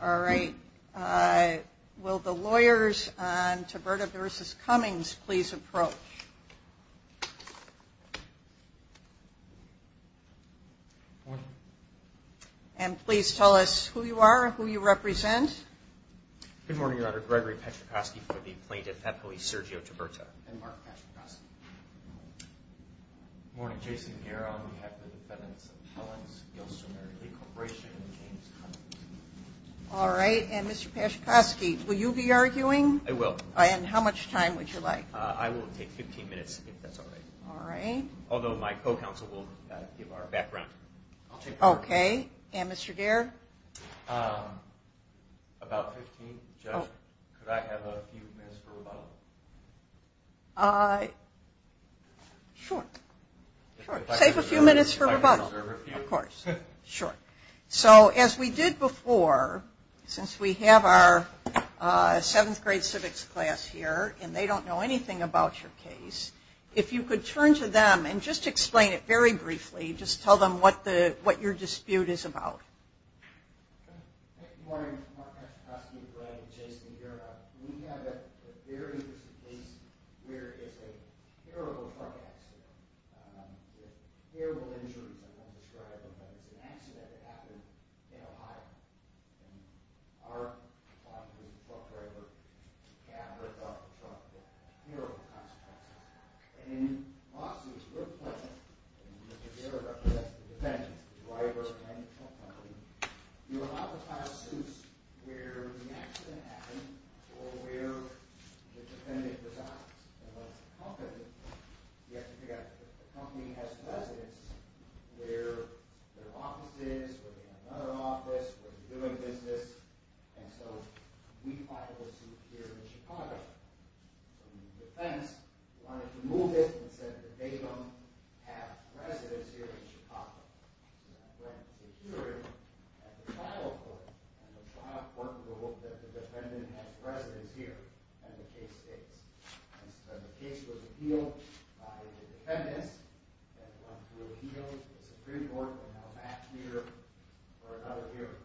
All right. Will the lawyers on Tiverta v. Cummings please approach? And please tell us who you are, who you represent. Good morning, Your Honor. Gregory Petropaski for the plaintiff at police, Sergio Tiverta. And Mark Pashkoski. Good morning, Jason Gehr on behalf of the defendants' appellants, Gil Sumer Lee Corporation and James Cummings. All right. And Mr. Pashkoski, will you be arguing? I will. And how much time would you like? I will take 15 minutes if that's all right. All right. Although my co-counsel will give our background. Okay. And Mr. Gehr? About 15. Judge, could I have a few minutes for rebuttal? Sure. Save a few minutes for rebuttal. Of course. Sure. So as we did before, since we have our 7th grade civics class here and they don't know anything about your case, if you could turn to them and just explain it very briefly. Just tell them what your dispute is about. Good morning, Mark Pashkoski, Greg, Jason Gehr. We have a very interesting case where it's a terrible truck accident with terrible injuries. I won't describe them, but it's an accident that happened in Ohio. And our client was a truck driver, and he had hurt up the truck with terrible consequences. And in lawsuits where the plaintiff, and Mr. Gehr represents the defendants, the driver and the truck company, you will have to file a suit where the accident happened or where the defendant resides. And when it's the company, you have to figure out if the company was running an office, was doing business, and so we filed a suit here in Chicago. And the defense wanted to move it and said that they don't have residents here in Chicago. And that's when the hearing at the trial court, and the trial court ruled that the defendant has residents here, and the case stays. And so the case was appealed by the defendants, and the Supreme Court will now back here for another hearing.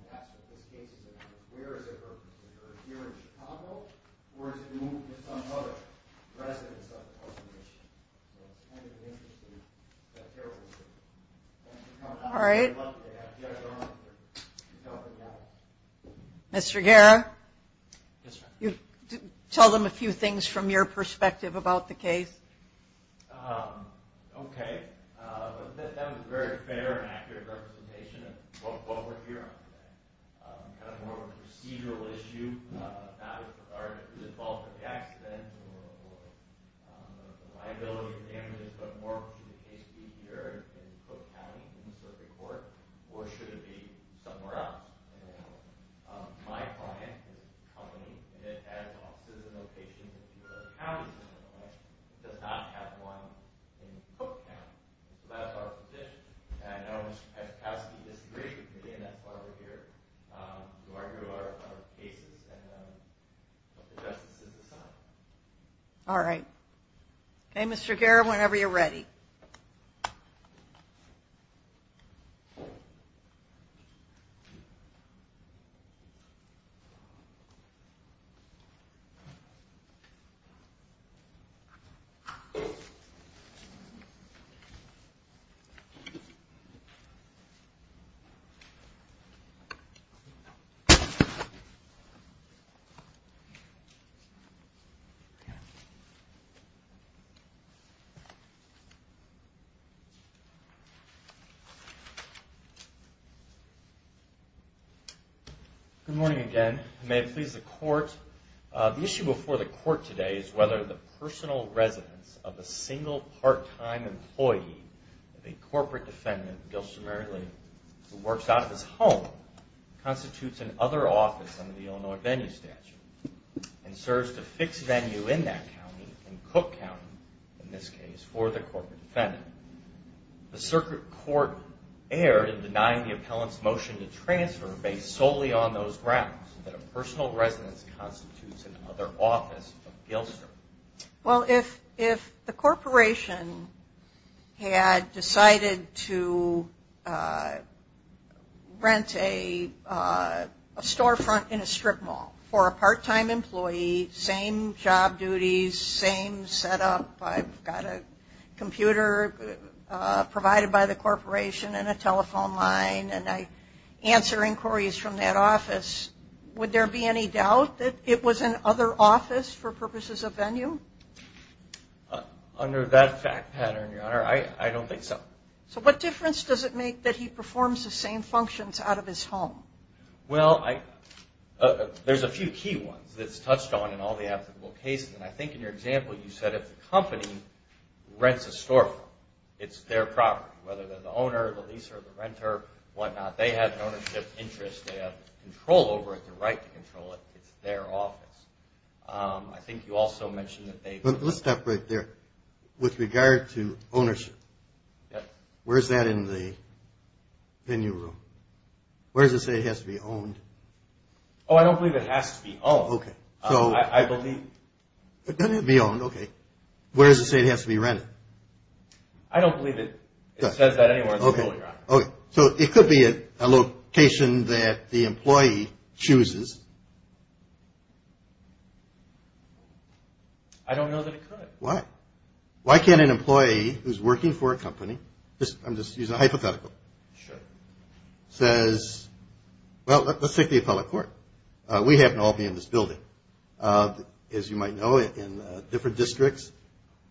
And that's what this case is about. Where is it hurting? Is it hurting here in Chicago, or is it hurting in some other residence? All right. Mr. Gehr, tell them a few things from your perspective about the case. Okay. That was a very fair and accurate representation of what we're here on today. Kind of more of a procedural issue, not with regard to who's involved in the accident or the liability of the damages, but more to the case being here in Cook County in the Supreme Court, or should it be somewhere else? My client is the company, and it has offices and locations in other counties in Illinois. It does not have one in Cook County. So that's our position. And I know Mr. Peskovsky disagrees with me on that part over here. We argue our cases and what the justices decide. All right. Okay, Mr. Gehr, whenever you're ready. Good morning again. May it please the Court. The issue before the Court today is whether the personal residence of a single part-time employee of a corporate defendant, Gilstrom Erling, who works out of his home, constitutes an other office under the Illinois venue statute and serves the fixed venue in that county, in Cook County in this case, for the corporate defendant. The circuit court erred in denying the appellant's motion to transfer based solely on those grounds that a personal residence constitutes an other office for Gilstrom. Well, if the corporation had decided to rent a storefront in a strip mall for a part-time employee, same job duties, same setup. I've got a computer provided by the corporation and a telephone line and I answer inquiries from that office. Would there be any doubt that it was an other office for purposes of venue? Under that fact pattern, Your Honor, I don't think so. So what difference does it make that he performs the same functions out of his home? Well, there's a few key ones that's touched on in all the applicable cases. And I think in your example you said if the company rents a storefront, it's their property, whether they're the owner, the leaser, the renter, whatnot. They have ownership interests. They have control over it, the right to control it. It's their office. I think you also mentioned that they've... Let's stop right there. With regard to ownership, where's that in the venue rule? Where does it say it has to be owned? Oh, I don't believe it has to be owned. Okay. So... I believe... It doesn't have to be owned. Okay. Where does it say it has to be rented? I don't believe it says that anywhere in the ruling, Your Honor. Okay. So it could be a location that the employee chooses. I don't know that it could. Why? Why can't an employee who's working for a company, I'm just using a hypothetical, says, well, let's take the appellate court. We happen to all be in this building. As you might know, in different districts,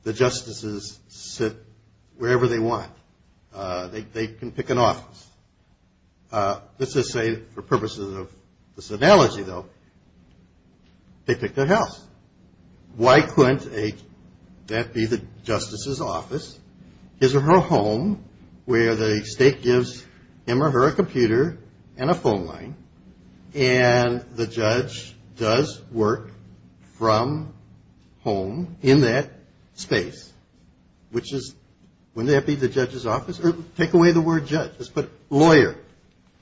the justices sit wherever they want. They can pick an office. Let's just say, for purposes of this analogy, though, they pick their house. Why couldn't that be the justice's office? His or her home, where the state gives him or her a computer and a phone line, and the judge does work from home in that space, which is, wouldn't that be the judge's office? Take away the word judge. Let's put lawyer.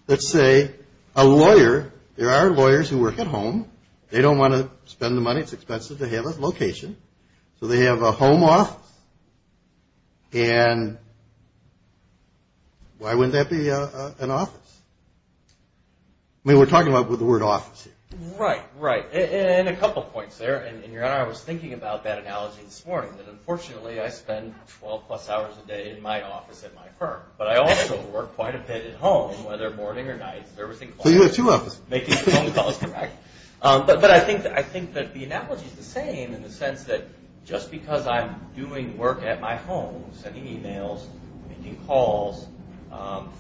Let's say a lawyer, there are lawyers who work at home. They don't want to spend the money. It's expensive to have a location. So they have a home office. And why wouldn't that be an office? I mean, we're talking about the word office here. Right, right. And a couple points there. And, Your Honor, I was thinking about that analogy this morning, that unfortunately, I spend 12 plus hours a day in my office at my firm. But I also work quite a bit at home, whether morning or night, servicing clients. So you have two offices. But I think that the analogy is the same in the sense that just because I'm doing work at my home, sending emails, making calls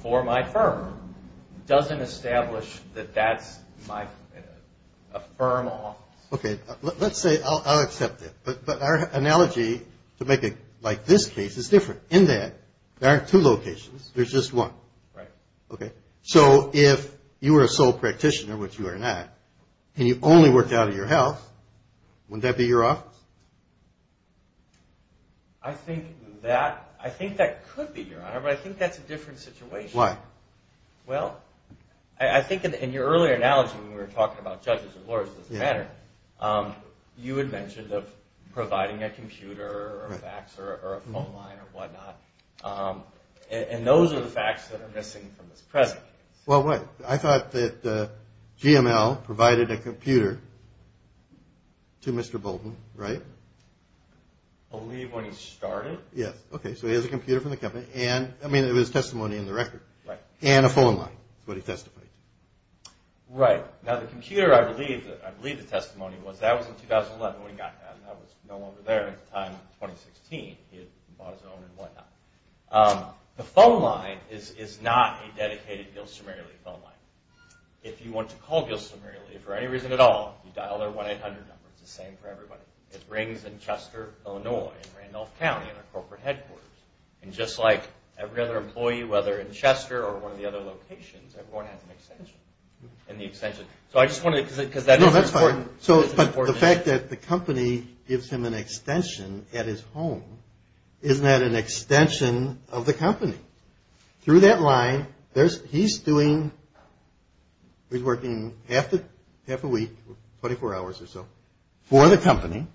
for my firm, doesn't establish that that's a firm office. Okay. Let's say, I'll accept that. But our analogy, to make it like this case, is different. In that, there aren't two locations. There's just one. Right. Okay. So if you were a sole practitioner, which you are not, and you only worked out of your house, wouldn't that be your office? I think that could be, Your Honor. But I think that's a different situation. Why? Well, I think in your earlier analogy, when we were talking about judges and lawyers, it And those are the facts that are missing from this present case. Well, wait. I thought that GML provided a computer to Mr. Bolden, right? I believe when he started. Yes. Okay. So he has a computer from the company. And, I mean, it was testimony in the record. Right. And a phone line is what he testified to. Right. Now, the computer, I believe the testimony was, that was in 2011 when he got that. I was no longer there at the time in 2016. He had bought his own and whatnot. The phone line is not a dedicated Gil Sumerili phone line. If you want to call Gil Sumerili for any reason at all, you dial their 1-800 number. It's the same for everybody. It rings in Chester, Illinois, in Randolph County, in our corporate headquarters. And just like every other employee, whether in Chester or one of the other locations, everyone has an extension. In the extension. So I just wanted to, because that is important. So, but the fact that the company gives him an extension at his home, isn't that an extension of the company? Through that line, he's doing, he's working half a week, 24 hours or so, for the company.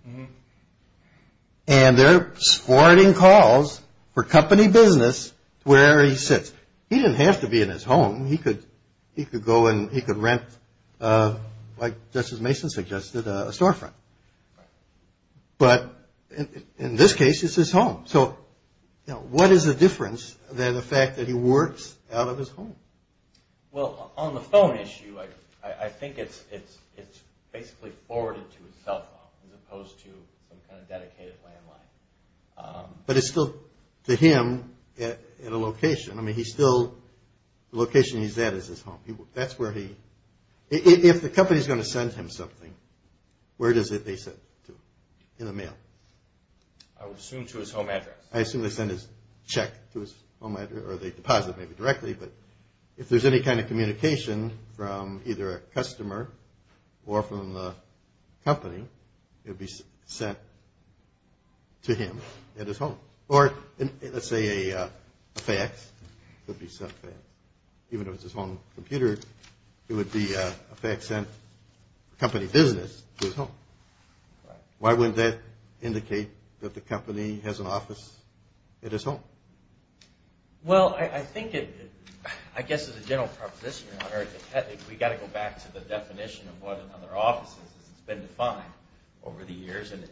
And they're forwarding calls for company business to wherever he sits. He didn't have to be in his home. He could go and he could rent, like Justice Mason suggested, a storefront. But in this case, it's his home. So what is the difference than the fact that he works out of his home? Well, on the phone issue, I think it's basically forwarded to his cell phone, as opposed to some kind of dedicated landline. But it's still to him at a location. I mean, he's still, the location he's at is his home. That's where he, if the company's going to send him something, where does it, they send it to? In the mail. I would assume to his home address. I assume they send his check to his home address, or they deposit it maybe directly. But if there's any kind of communication from either a customer or from the company, it would be sent to him at his home. Or let's say a fax would be sent to him. Even if it's his home computer, it would be a fax sent to company business to his home. Why wouldn't that indicate that the company has an office at his home? Well, I think it, I guess as a general proposition, we've got to go back to the definition of what another office is. It's been defined over the years. And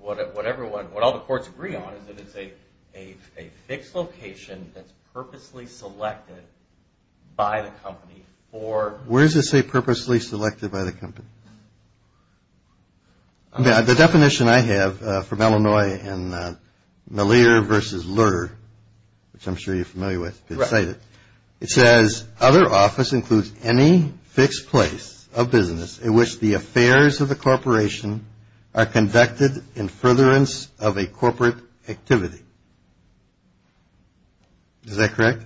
what everyone, what all the courts agree on is that it's a fixed location that's purposely selected by the company for. Where does it say purposely selected by the company? The definition I have from Illinois in Malir v. Ler, which I'm sure you're familiar with, it says other office includes any fixed place of business in which the affairs of the corporation are conducted in furtherance of a corporate activity. Is that correct?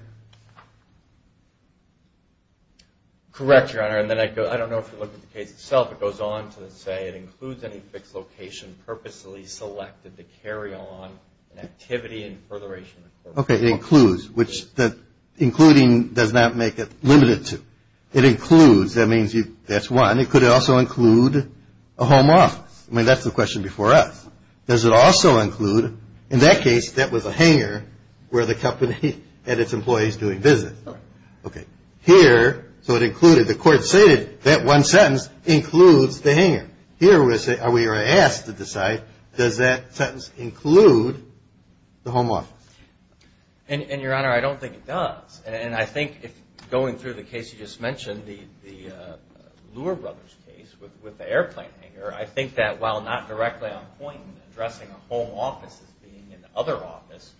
Correct, Your Honor. And then I don't know if you looked at the case itself. It goes on to say it includes any fixed location purposely selected to carry on an activity in furtheration. Okay, it includes, which the including does not make it limited to. It includes, that means that's one. It could also include a home office. I mean, that's the question before us. Does it also include, in that case, that was a hangar where the company had its employees doing business. Okay. Here, so it included, the court stated that one sentence includes the hangar. Here, we are asked to decide, does that sentence include the home office? And, Your Honor, I don't think it does. And I think going through the case you just mentioned, the Luer brothers case with the airplane hangar, I think that while not directly on point in addressing a home office as being an other office,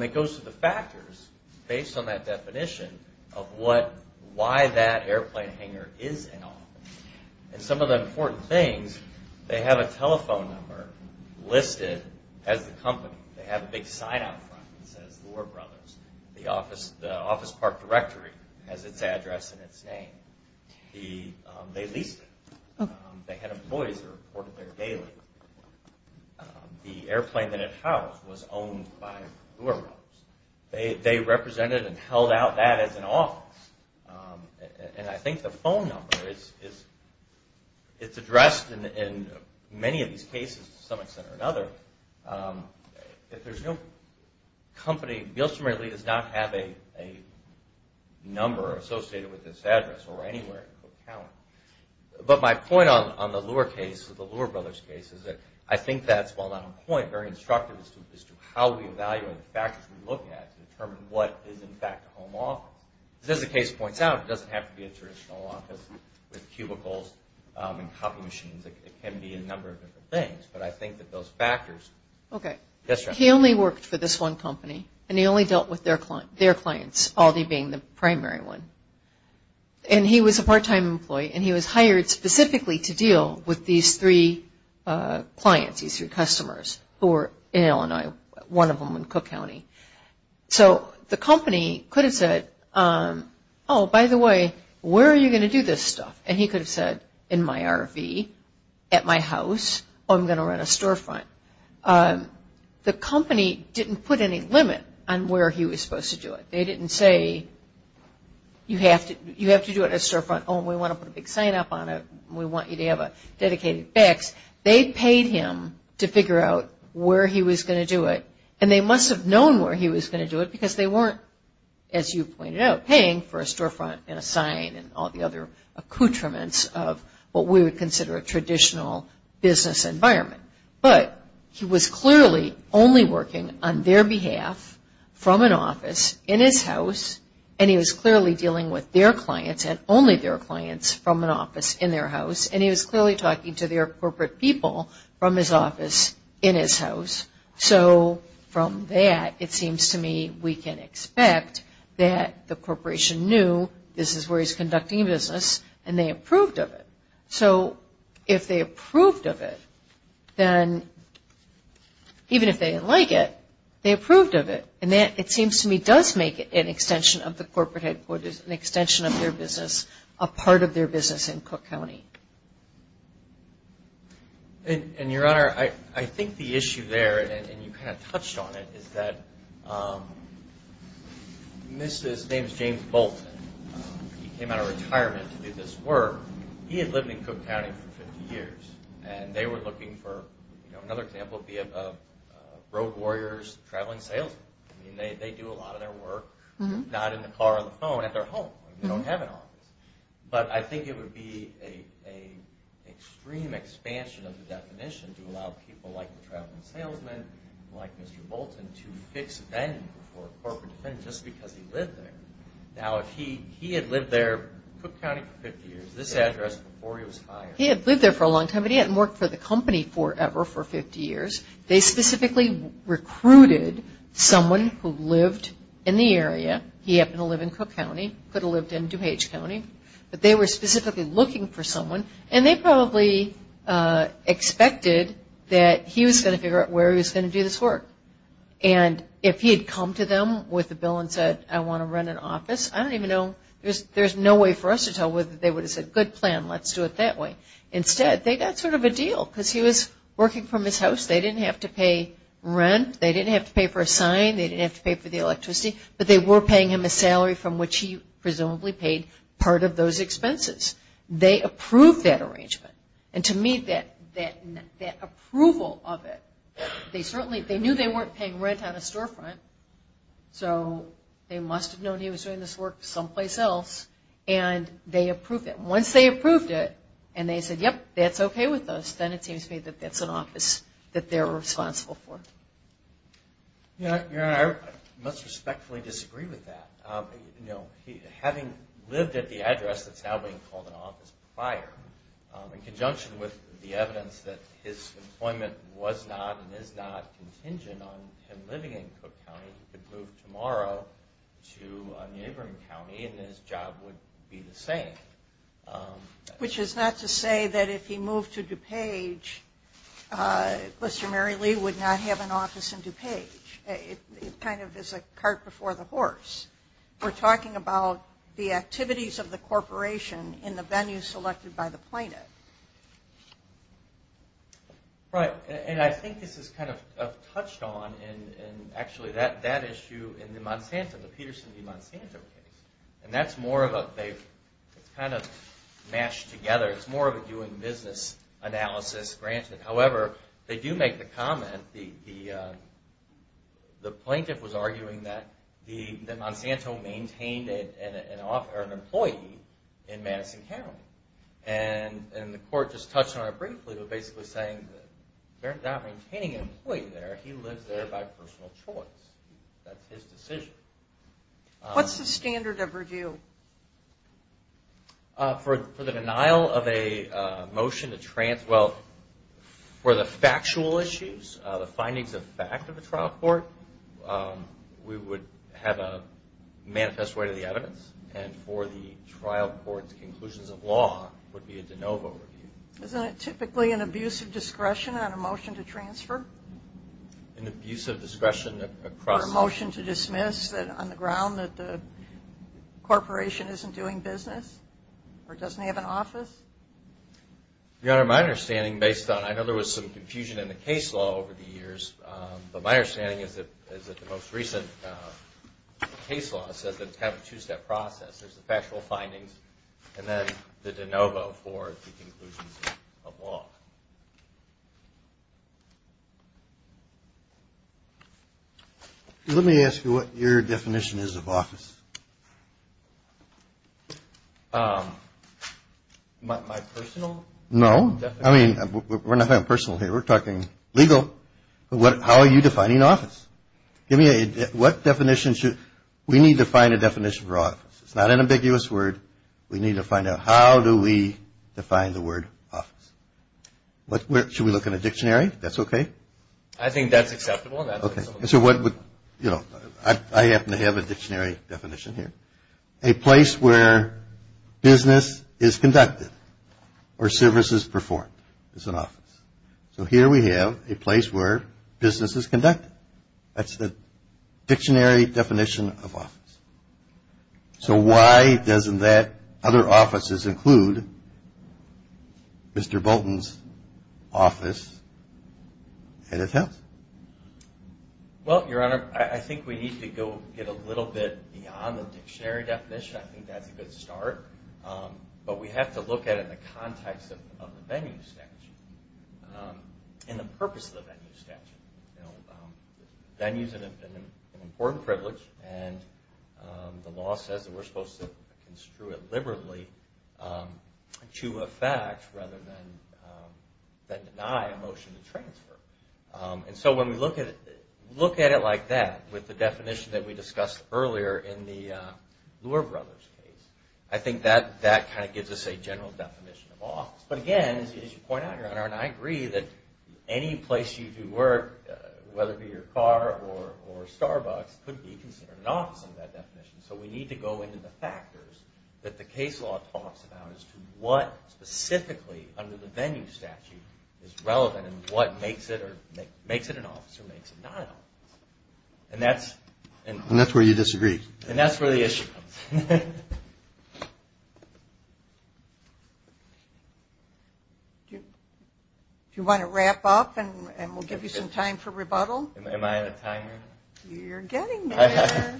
it goes to the factors based on that definition of why that airplane hangar is an office. And some of the important things, they have a telephone number listed as the company. They have a big sign out front that says Luer Brothers. The office park directory has its address and its name. They leased it. They had employees that reported there daily. The airplane that it housed was owned by Luer Brothers. They represented and held out that as an office. And I think the phone number, it's addressed in many of these cases to some extent or another. If there's no company, Mielstrom Realty does not have a number associated with this address or anywhere in Cook County. But my point on the Luer case, the Luer Brothers case, is that I think that's, while not on point, very instructive as to how we evaluate the factors we look at to determine what is, in fact, a home office. As the case points out, it doesn't have to be a traditional office with cubicles and copy machines. It can be a number of different things. But I think that those factors. Okay. He only worked for this one company, and he only dealt with their clients, Aldi being the primary one. And he was a part-time employee, and he was hired specifically to deal with these three clients, these three customers who were in Illinois, one of them in Cook County. So the company could have said, oh, by the way, where are you going to do this stuff? And he could have said, in my RV, at my house, or I'm going to run a storefront. The company didn't put any limit on where he was supposed to do it. They didn't say, you have to do it in a storefront. Oh, and we want to put a big sign up on it, and we want you to have dedicated bags. They paid him to figure out where he was going to do it. And they must have known where he was going to do it because they weren't, as you pointed out, paying for a storefront and a sign and all the other accoutrements of what we would consider a traditional business environment. But he was clearly only working on their behalf from an office in his house, and he was clearly dealing with their clients and only their clients from an office in their house, and he was clearly talking to their corporate people from his office in his house. So from that, it seems to me we can expect that the corporation knew this is where he's conducting business, and they approved of it. So if they approved of it, then even if they didn't like it, they approved of it. And that, it seems to me, does make an extension of the corporate headquarters, an extension of their business, a part of their business in Cook County. And, Your Honor, I think the issue there, and you kind of touched on it, is that this is, his name is James Bolton. He came out of retirement to do this work. He had lived in Cook County for 50 years, and they were looking for, you know, another example would be a road warriors traveling salesman. I mean, they do a lot of their work not in the car or the phone, at their home. They don't have an office. But I think it would be an extreme expansion of the definition to allow people like the traveling salesman, like Mr. Bolton, to fix a venue for a corporate event just because he lived there. Now, if he had lived there, Cook County, for 50 years, this address before he was hired. He had lived there for a long time, but he hadn't worked for the company forever for 50 years. They specifically recruited someone who lived in the area. He happened to live in Cook County, could have lived in DuPage County. But they were specifically looking for someone, and they probably expected that he was going to figure out where he was going to do this work. And if he had come to them with a bill and said, I want to run an office, I don't even know, there's no way for us to tell whether they would have said, good plan, let's do it that way. Instead, they got sort of a deal because he was working from his house. They didn't have to pay rent. They didn't have to pay for a sign. They didn't have to pay for the electricity. But they were paying him a salary from which he presumably paid part of those expenses. They approved that arrangement. And to me, that approval of it, they knew they weren't paying rent on a storefront, so they must have known he was doing this work someplace else, and they approved it. Once they approved it and they said, yep, that's okay with us, then it seems to me that that's an office that they're responsible for. Yeah, I must respectfully disagree with that. Having lived at the address that's now being called an office prior, in conjunction with the evidence that his employment was not and is not contingent on him living in Cook County, he could move tomorrow to a neighboring county and his job would be the same. Which is not to say that if he moved to DuPage, Mr. Mary Lee would not have an office in DuPage. It kind of is a cart before the horse. We're talking about the activities of the corporation in the venue selected by the plaintiff. Right. And I think this is kind of touched on in actually that issue in the Monsanto, the Peterson v. Monsanto case. And that's more of a, it's kind of mashed together. It's more of a doing business analysis, granted. However, they do make the comment, the plaintiff was arguing that Monsanto maintained an employee in Madison County. And the court just touched on it briefly, but basically saying they're not maintaining an employee there, he lives there by personal choice. That's his decision. What's the standard of review? For the denial of a motion to transfer, well, for the factual issues, the findings of fact of a trial court, we would have a manifest way to the evidence. And for the trial court's conclusions of law, it would be a de novo review. Isn't it typically an abuse of discretion on a motion to transfer? An abuse of discretion across. A motion to dismiss on the ground that the corporation isn't doing business or doesn't have an office? Your Honor, my understanding based on, I know there was some confusion in the case law over the years, but my understanding is that the most recent case law says it's kind of a two-step process. There's the factual findings and then the de novo for the conclusions of law. Let me ask you what your definition is of office. My personal? No. I mean, we're not talking personal here. We're talking legal. How are you defining office? Give me a definition. We need to find a definition for office. It's not an ambiguous word. We need to find out how do we define the word office. Should we look in a dictionary? That's okay. I think that's acceptable. I happen to have a dictionary definition here. A place where business is conducted or services performed is an office. So here we have a place where business is conducted. That's the dictionary definition of office. So why doesn't that other offices include Mr. Bolton's office and his house? Well, Your Honor, I think we need to go get a little bit beyond the dictionary definition. I think that's a good start. But we have to look at it in the context of the venue statute and the purpose of the venue statute. Venue is an important privilege, and the law says that we're supposed to construe it liberally to a fact rather than deny a motion to transfer. So when we look at it like that with the definition that we discussed earlier in the Luer Brothers case, I think that kind of gives us a general definition of office. But again, as you point out, Your Honor, I agree that any place you do work, whether it be your car or Starbucks, could be considered an office in that definition. So we need to go into the factors that the case law talks about as to what specifically under the venue statute is relevant and what makes it an office or makes it not an office. And that's where you disagree. And that's where the issue comes. Thank you. Do you want to wrap up and we'll give you some time for rebuttal? Am I out of time? You're getting there.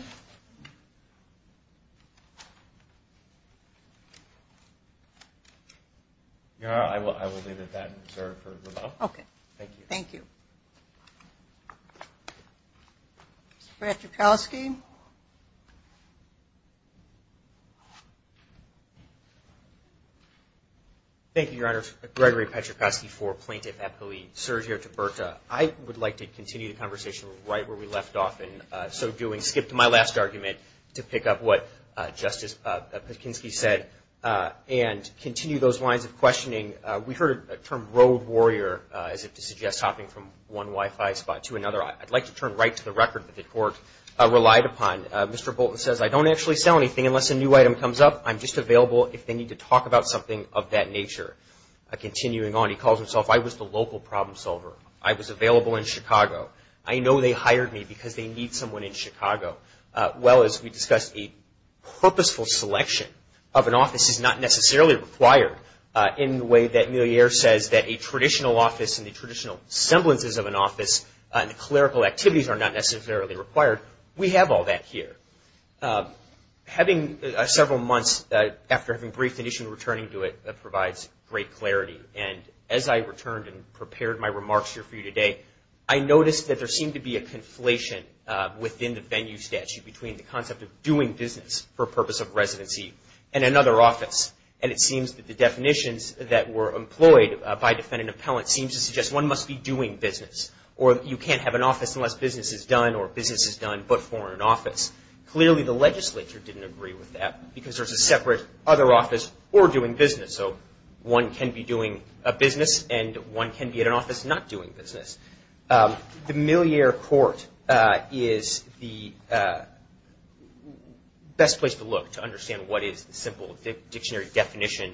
Your Honor, I will leave it at that and reserve for rebuttal. Okay. Thank you. Mr. Petrikowsky. Thank you, Your Honor. Gregory Petrikowsky for Plaintiff Appellee Sergio Taberta. I would like to continue the conversation right where we left off in so doing, skip to my last argument to pick up what Justice Patkinski said and continue those lines of questioning. We heard a term, road warrior, as if to suggest hopping from one Wi-Fi spot to another. I'd like to turn right to the record that the Court relied upon. Mr. Bolton says, I don't actually sell anything unless a new item comes up. I'm just available if they need to talk about something of that nature. Continuing on, he calls himself, I was the local problem solver. I was available in Chicago. I know they hired me because they need someone in Chicago. Well, as we discussed, a purposeful selection of an office is not necessarily required in the way that Miliere says that a traditional office and the traditional semblances of an office and clerical activities are not necessarily required. We have all that here. Having several months after having briefed and issued and returning to it provides great clarity. And as I returned and prepared my remarks here for you today, I noticed that there seemed to be a conflation within the venue statute between the concept of doing business for a purpose of residency and another office. And it seems that the definitions that were employed by defendant and appellant seems to suggest one must be doing business or you can't have an office unless business is done or business is done but for an office. Clearly, the legislature didn't agree with that because there's a separate other office or doing business. So one can be doing a business and one can be at an office not doing business. The Miliere court is the best place to look to understand what is the simple dictionary definition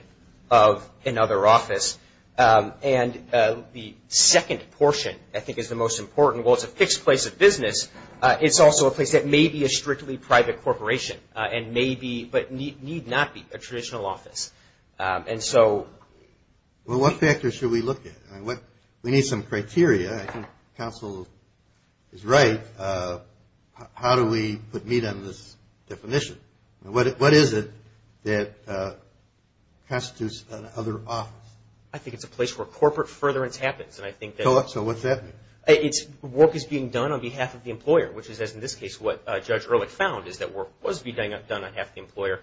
of another office. And the second portion I think is the most important. While it's a fixed place of business, it's also a place that may be a strictly private corporation and may be but need not be a traditional office. And so. Well, what factors should we look at? We need some criteria. I think counsel is right. How do we put meat on this definition? What is it that constitutes an other office? I think it's a place where corporate furtherance happens. So what's that mean? Work is being done on behalf of the employer, which is as in this case what Judge Ehrlich found is that work was being done on behalf of the employer.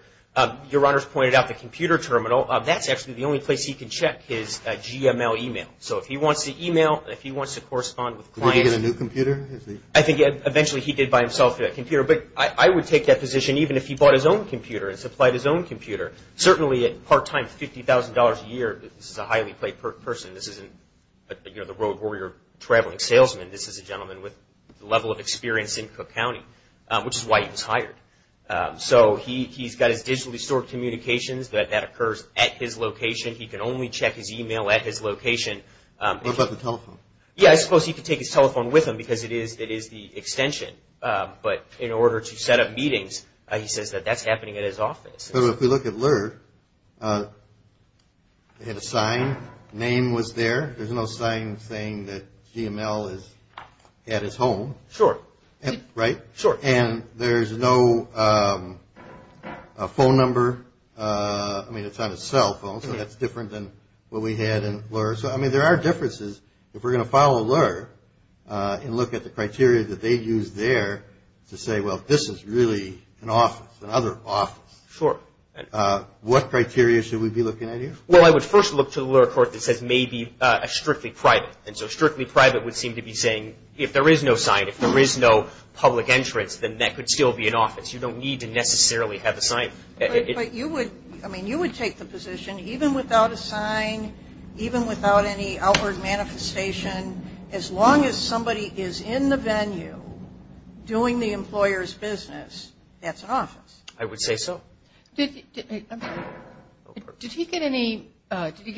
Your Honor has pointed out the computer terminal. That's actually the only place he can check his GML email. So if he wants to email, if he wants to correspond with clients. Did he get a new computer? I think eventually he did by himself get a computer. But I would take that position even if he bought his own computer and supplied his own computer. Certainly at part-time $50,000 a year, this is a highly paid person. This isn't the road warrior traveling salesman. This is a gentleman with a level of experience in Cook County, which is why he was hired. So he's got his digitally stored communications. That occurs at his location. He can only check his email at his location. What about the telephone? Yeah, I suppose he could take his telephone with him because it is the extension. But in order to set up meetings, he says that that's happening at his office. So if we look at LIRT, it had a sign. Name was there. There's no sign saying that GML is at his home. Sure. Right? Sure. And there's no phone number. I mean, it's on a cell phone, so that's different than what we had in LIRT. So, I mean, there are differences. If we're going to follow LIRT and look at the criteria that they use there to say, well, this is really an office, another office. Sure. What criteria should we be looking at here? Well, I would first look to the lower court that says maybe a strictly private. And so strictly private would seem to be saying if there is no sign, if there is no public entrance, then that could still be an office. You don't need to necessarily have a sign. But you would, I mean, you would take the position, even without a sign, even without any outward manifestation, as long as somebody is in the venue doing the employer's business, that's an office. I would say so. Did he get any, did he get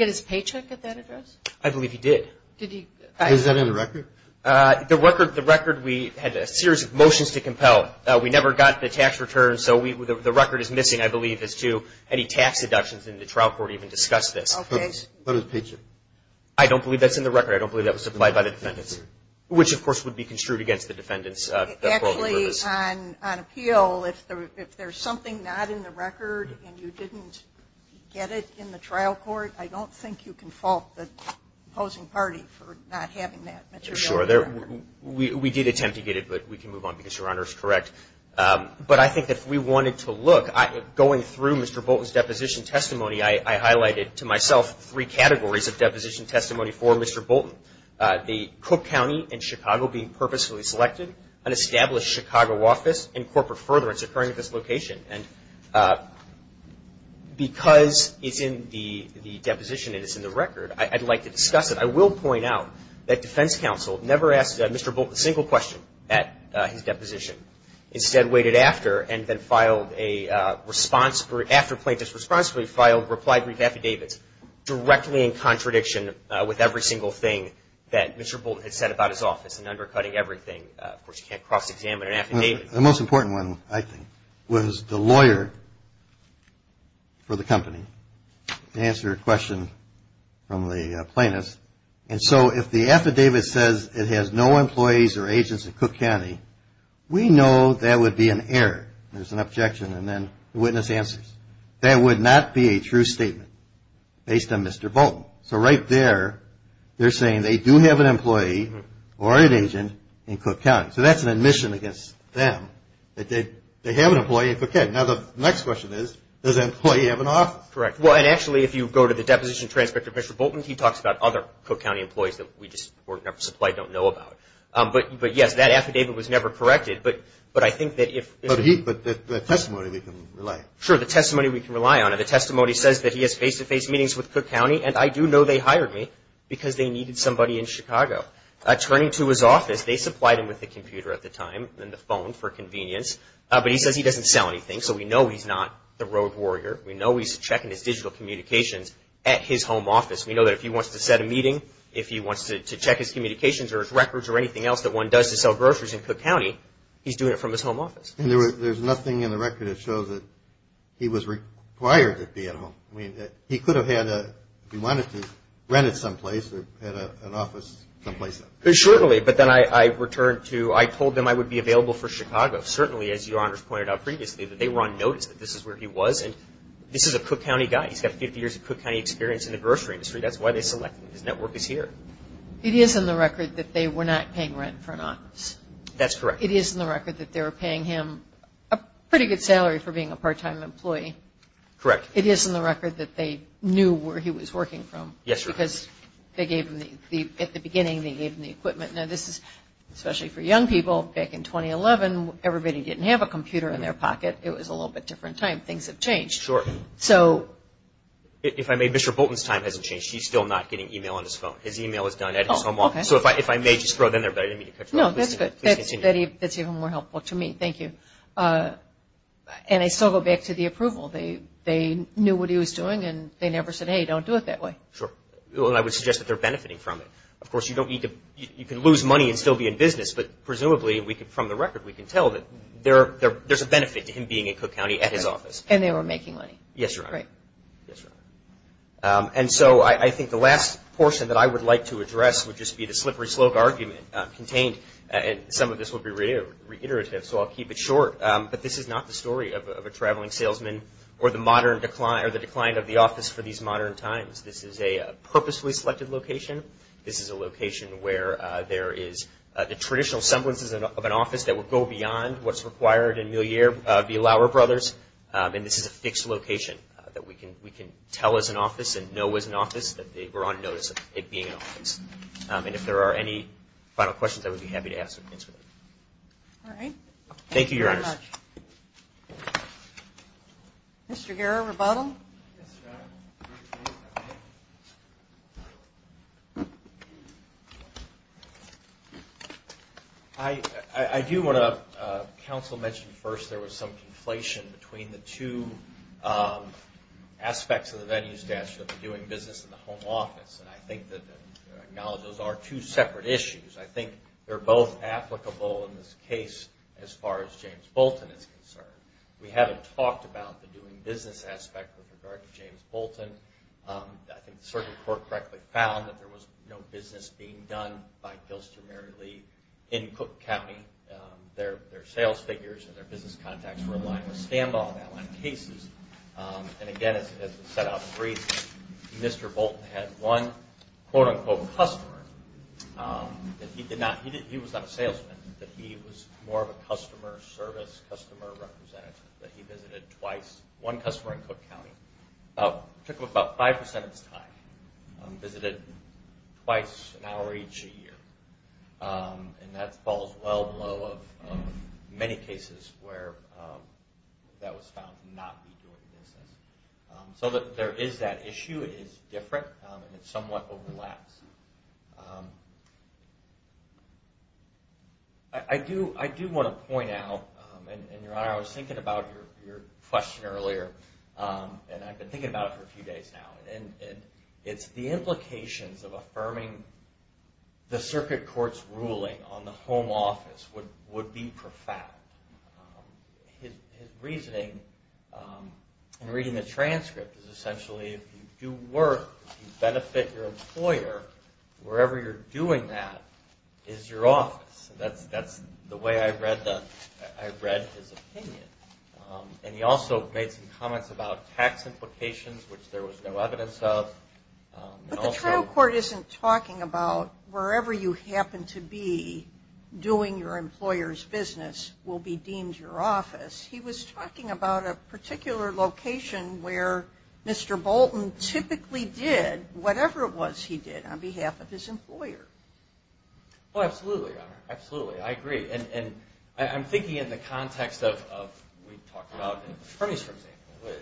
his paycheck at that address? I believe he did. Is that in the record? The record, we had a series of motions to compel. We never got the tax return, so the record is missing, I believe, as to any tax deductions, and the trial court even discussed this. Okay. What is the paycheck? I don't believe that's in the record. I don't believe that was supplied by the defendants, which of course would be construed against the defendants. Actually, on appeal, if there's something not in the record and you didn't get it in the trial court, I don't think you can fault the opposing party for not having that material. Sure. We did attempt to get it, but we can move on because Your Honor is correct. But I think if we wanted to look, going through Mr. Bolton's deposition testimony, I highlighted to myself three categories of deposition testimony for Mr. Bolton. The Cook County and Chicago being purposefully selected, an established Chicago office, and corporate furtherance occurring at this location. Because it's in the deposition and it's in the record, I'd like to discuss it. I will point out that defense counsel never asked Mr. Bolton a single question at his deposition. Instead, waited after and then filed a response after plaintiffs responsibly filed reply brief affidavits directly in contradiction with every single thing that Mr. Bolton had said about his office and undercutting everything. Of course, you can't cross-examine an affidavit. The most important one, I think, was the lawyer for the company to answer a question from the plaintiffs. And so if the affidavit says it has no employees or agents in Cook County, we know that would be an error. There's an objection and then the witness answers. That would not be a true statement based on Mr. Bolton. So right there, they're saying they do have an employee or an agent in Cook County. So that's an admission against them that they have an employee in Cook County. Okay. Now the next question is, does that employee have an office? Correct. Well, and actually, if you go to the deposition transcript of Mr. Bolton, he talks about other Cook County employees that we just were never supplied, don't know about. But, yes, that affidavit was never corrected. But I think that if – But the testimony we can rely on. Sure, the testimony we can rely on. And the testimony says that he has face-to-face meetings with Cook County, and I do know they hired me because they needed somebody in Chicago. Turning to his office, they supplied him with a computer at the time and the phone for convenience. But he says he doesn't sell anything, so we know he's not the road warrior. We know he's checking his digital communications at his home office. We know that if he wants to set a meeting, if he wants to check his communications or his records or anything else that one does to sell groceries in Cook County, he's doing it from his home office. And there's nothing in the record that shows that he was required to be at home. I mean, he could have had a – he wanted to rent it someplace, an office someplace. Certainly. But then I returned to – I told them I would be available for Chicago. Certainly, as Your Honors pointed out previously, that they were on notice that this is where he was. And this is a Cook County guy. He's got 50 years of Cook County experience in the grocery industry. That's why they selected him. His network is here. It is in the record that they were not paying rent for an office. That's correct. It is in the record that they were paying him a pretty good salary for being a part-time employee. Correct. It is in the record that they knew where he was working from. Yes, Your Honor. Because they gave him the – at the beginning they gave him the equipment. Now, this is – especially for young people, back in 2011, everybody didn't have a computer in their pocket. It was a little bit different time. Things have changed. Sure. So – If I may, Mr. Bolton's time hasn't changed. He's still not getting email on his phone. His email is done at his home office. Oh, okay. So if I may just throw that in there, but I didn't mean to cut you off. No, that's good. Please continue. That's even more helpful to me. Thank you. And I still go back to the approval. They knew what he was doing, and they never said, hey, don't do it that way. Sure. Well, I would suggest that they're benefiting from it. Of course, you don't need to – you can lose money and still be in business. But presumably, from the record, we can tell that there's a benefit to him being in Cook County at his office. And they were making money. Yes, Your Honor. Right. Yes, Your Honor. And so I think the last portion that I would like to address would just be the slippery slope argument contained. And some of this will be reiterative, so I'll keep it short. But this is not the story of a traveling salesman or the decline of the office for these modern times. This is a purposefully selected location. This is a location where there is the traditional semblances of an office that would go beyond what's required in Miliere v. Lauer Brothers. And this is a fixed location that we can tell is an office and know is an office that they were on notice of it being an office. And if there are any final questions, I would be happy to answer them. All right. Thank you, Your Honor. Thank you very much. Mr. Guerra, rebuttal. Yes, Your Honor. I do want to – counsel mentioned first there was some conflation between the two aspects of the venue statute, the doing business and the home office. And I think that acknowledges our two separate issues. I think they're both applicable in this case as far as James Bolton is concerned. We haven't talked about the doing business aspect with regard to James Bolton. I think the circuit court correctly found that there was no business being done by Gilston Mary Lee in Cook County. Their sales figures and their business contacts were aligned with Stanbaugh, now on cases. And again, as the setup agrees, Mr. Bolton had one, quote, unquote, customer. He was not a salesman. He was more of a customer service, customer representative. He visited twice, one customer in Cook County. Took him about 5% of his time. Visited twice an hour each a year. And that falls well below many cases where that was found not to be doing business. So there is that issue. It is different, and it's somewhat overlapped. I do want to point out, and, Your Honor, I was thinking about your question earlier, and I've been thinking about it for a few days now, and it's the implications of affirming the circuit court's ruling on the home office would be profound. His reasoning in reading the transcript is essentially if you do work, if you benefit your employer, wherever you're doing that is your office. That's the way I read his opinion. And he also made some comments about tax implications, which there was no evidence of. But the trial court isn't talking about wherever you happen to be doing your employer's business will be deemed your office. He was talking about a particular location where Mr. Bolton typically did whatever it was he did on behalf of his employer. Oh, absolutely, Your Honor. Absolutely. I agree. And I'm thinking in the context of, we talked about it at the Furnace, for example.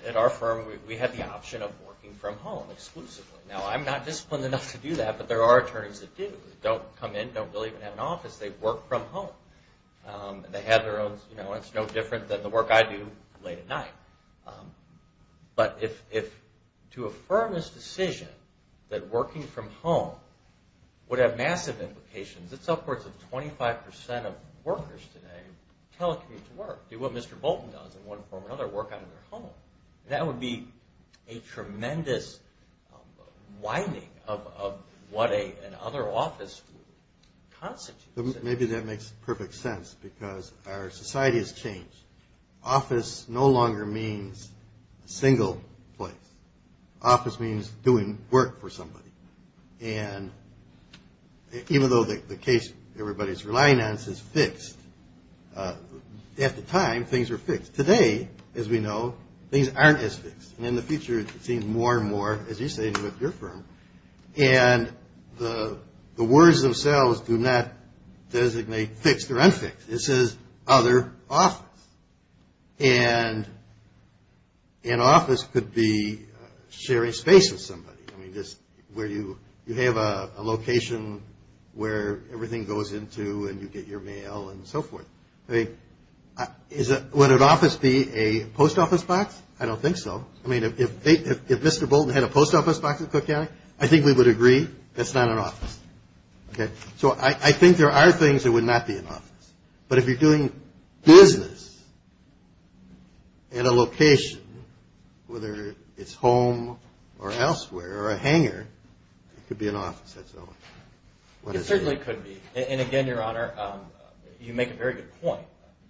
At our firm, we had the option of working from home exclusively. Now, I'm not disciplined enough to do that, but there are attorneys that do. They don't come in, don't really even have an office. They work from home. It's no different than the work I do late at night. But to affirm this decision that working from home would have massive implications, it's upwards of 25% of workers today telecommute to work, do what Mr. Bolton does in one form or another, work out of their home. That would be a tremendous widening of what an other office constitutes. Maybe that makes perfect sense because our society has changed. Office no longer means a single place. Office means doing work for somebody. And even though the case everybody's relying on is fixed, at the time, things were fixed. Today, as we know, things aren't as fixed. And in the future, it seems more and more, as you say, with your firm. And the words themselves do not designate fixed or unfixed. It says other office. And an office could be sharing space with somebody. I mean, just where you have a location where everything goes into and you get your mail and so forth. Would an office be a post office box? I don't think so. I mean, if Mr. Bolton had a post office box in Cook County, I think we would agree that's not an office. So I think there are things that would not be an office. But if you're doing business at a location, whether it's home or elsewhere or a hangar, it could be an office. It certainly could be. And, again, Your Honor, you make a very good point.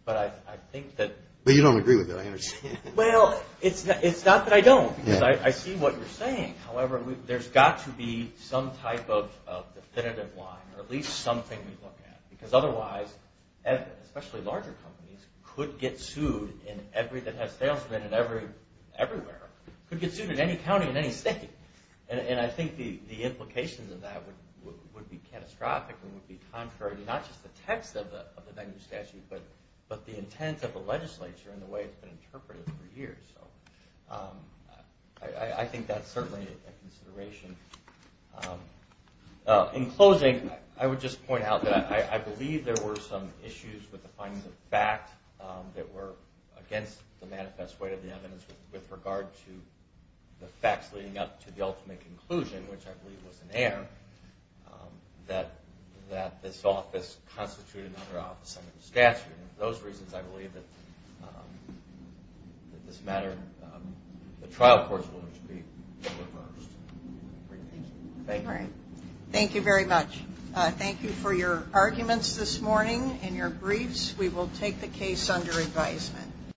But I think that – But you don't agree with it, I understand. Well, it's not that I don't. Because I see what you're saying. However, there's got to be some type of definitive line or at least something we look at. Because otherwise, especially larger companies, could get sued that has salesmen everywhere. Could get sued in any county in any state. And I think the implications of that would be catastrophic and would be contrary to not just the text of the statute, but the intent of the legislature and the way it's been interpreted for years. So I think that's certainly a consideration. In closing, I would just point out that I believe there were some issues with the findings of fact that were against the manifest way of the evidence with regard to the facts leading up to the ultimate conclusion, which I believe was in error, that this office constituted another office under the statute. And for those reasons, I believe that this matter, the trial court's ruling should be reversed. Thank you. Thank you very much. Thank you for your arguments this morning and your briefs. We will take the case under advisement.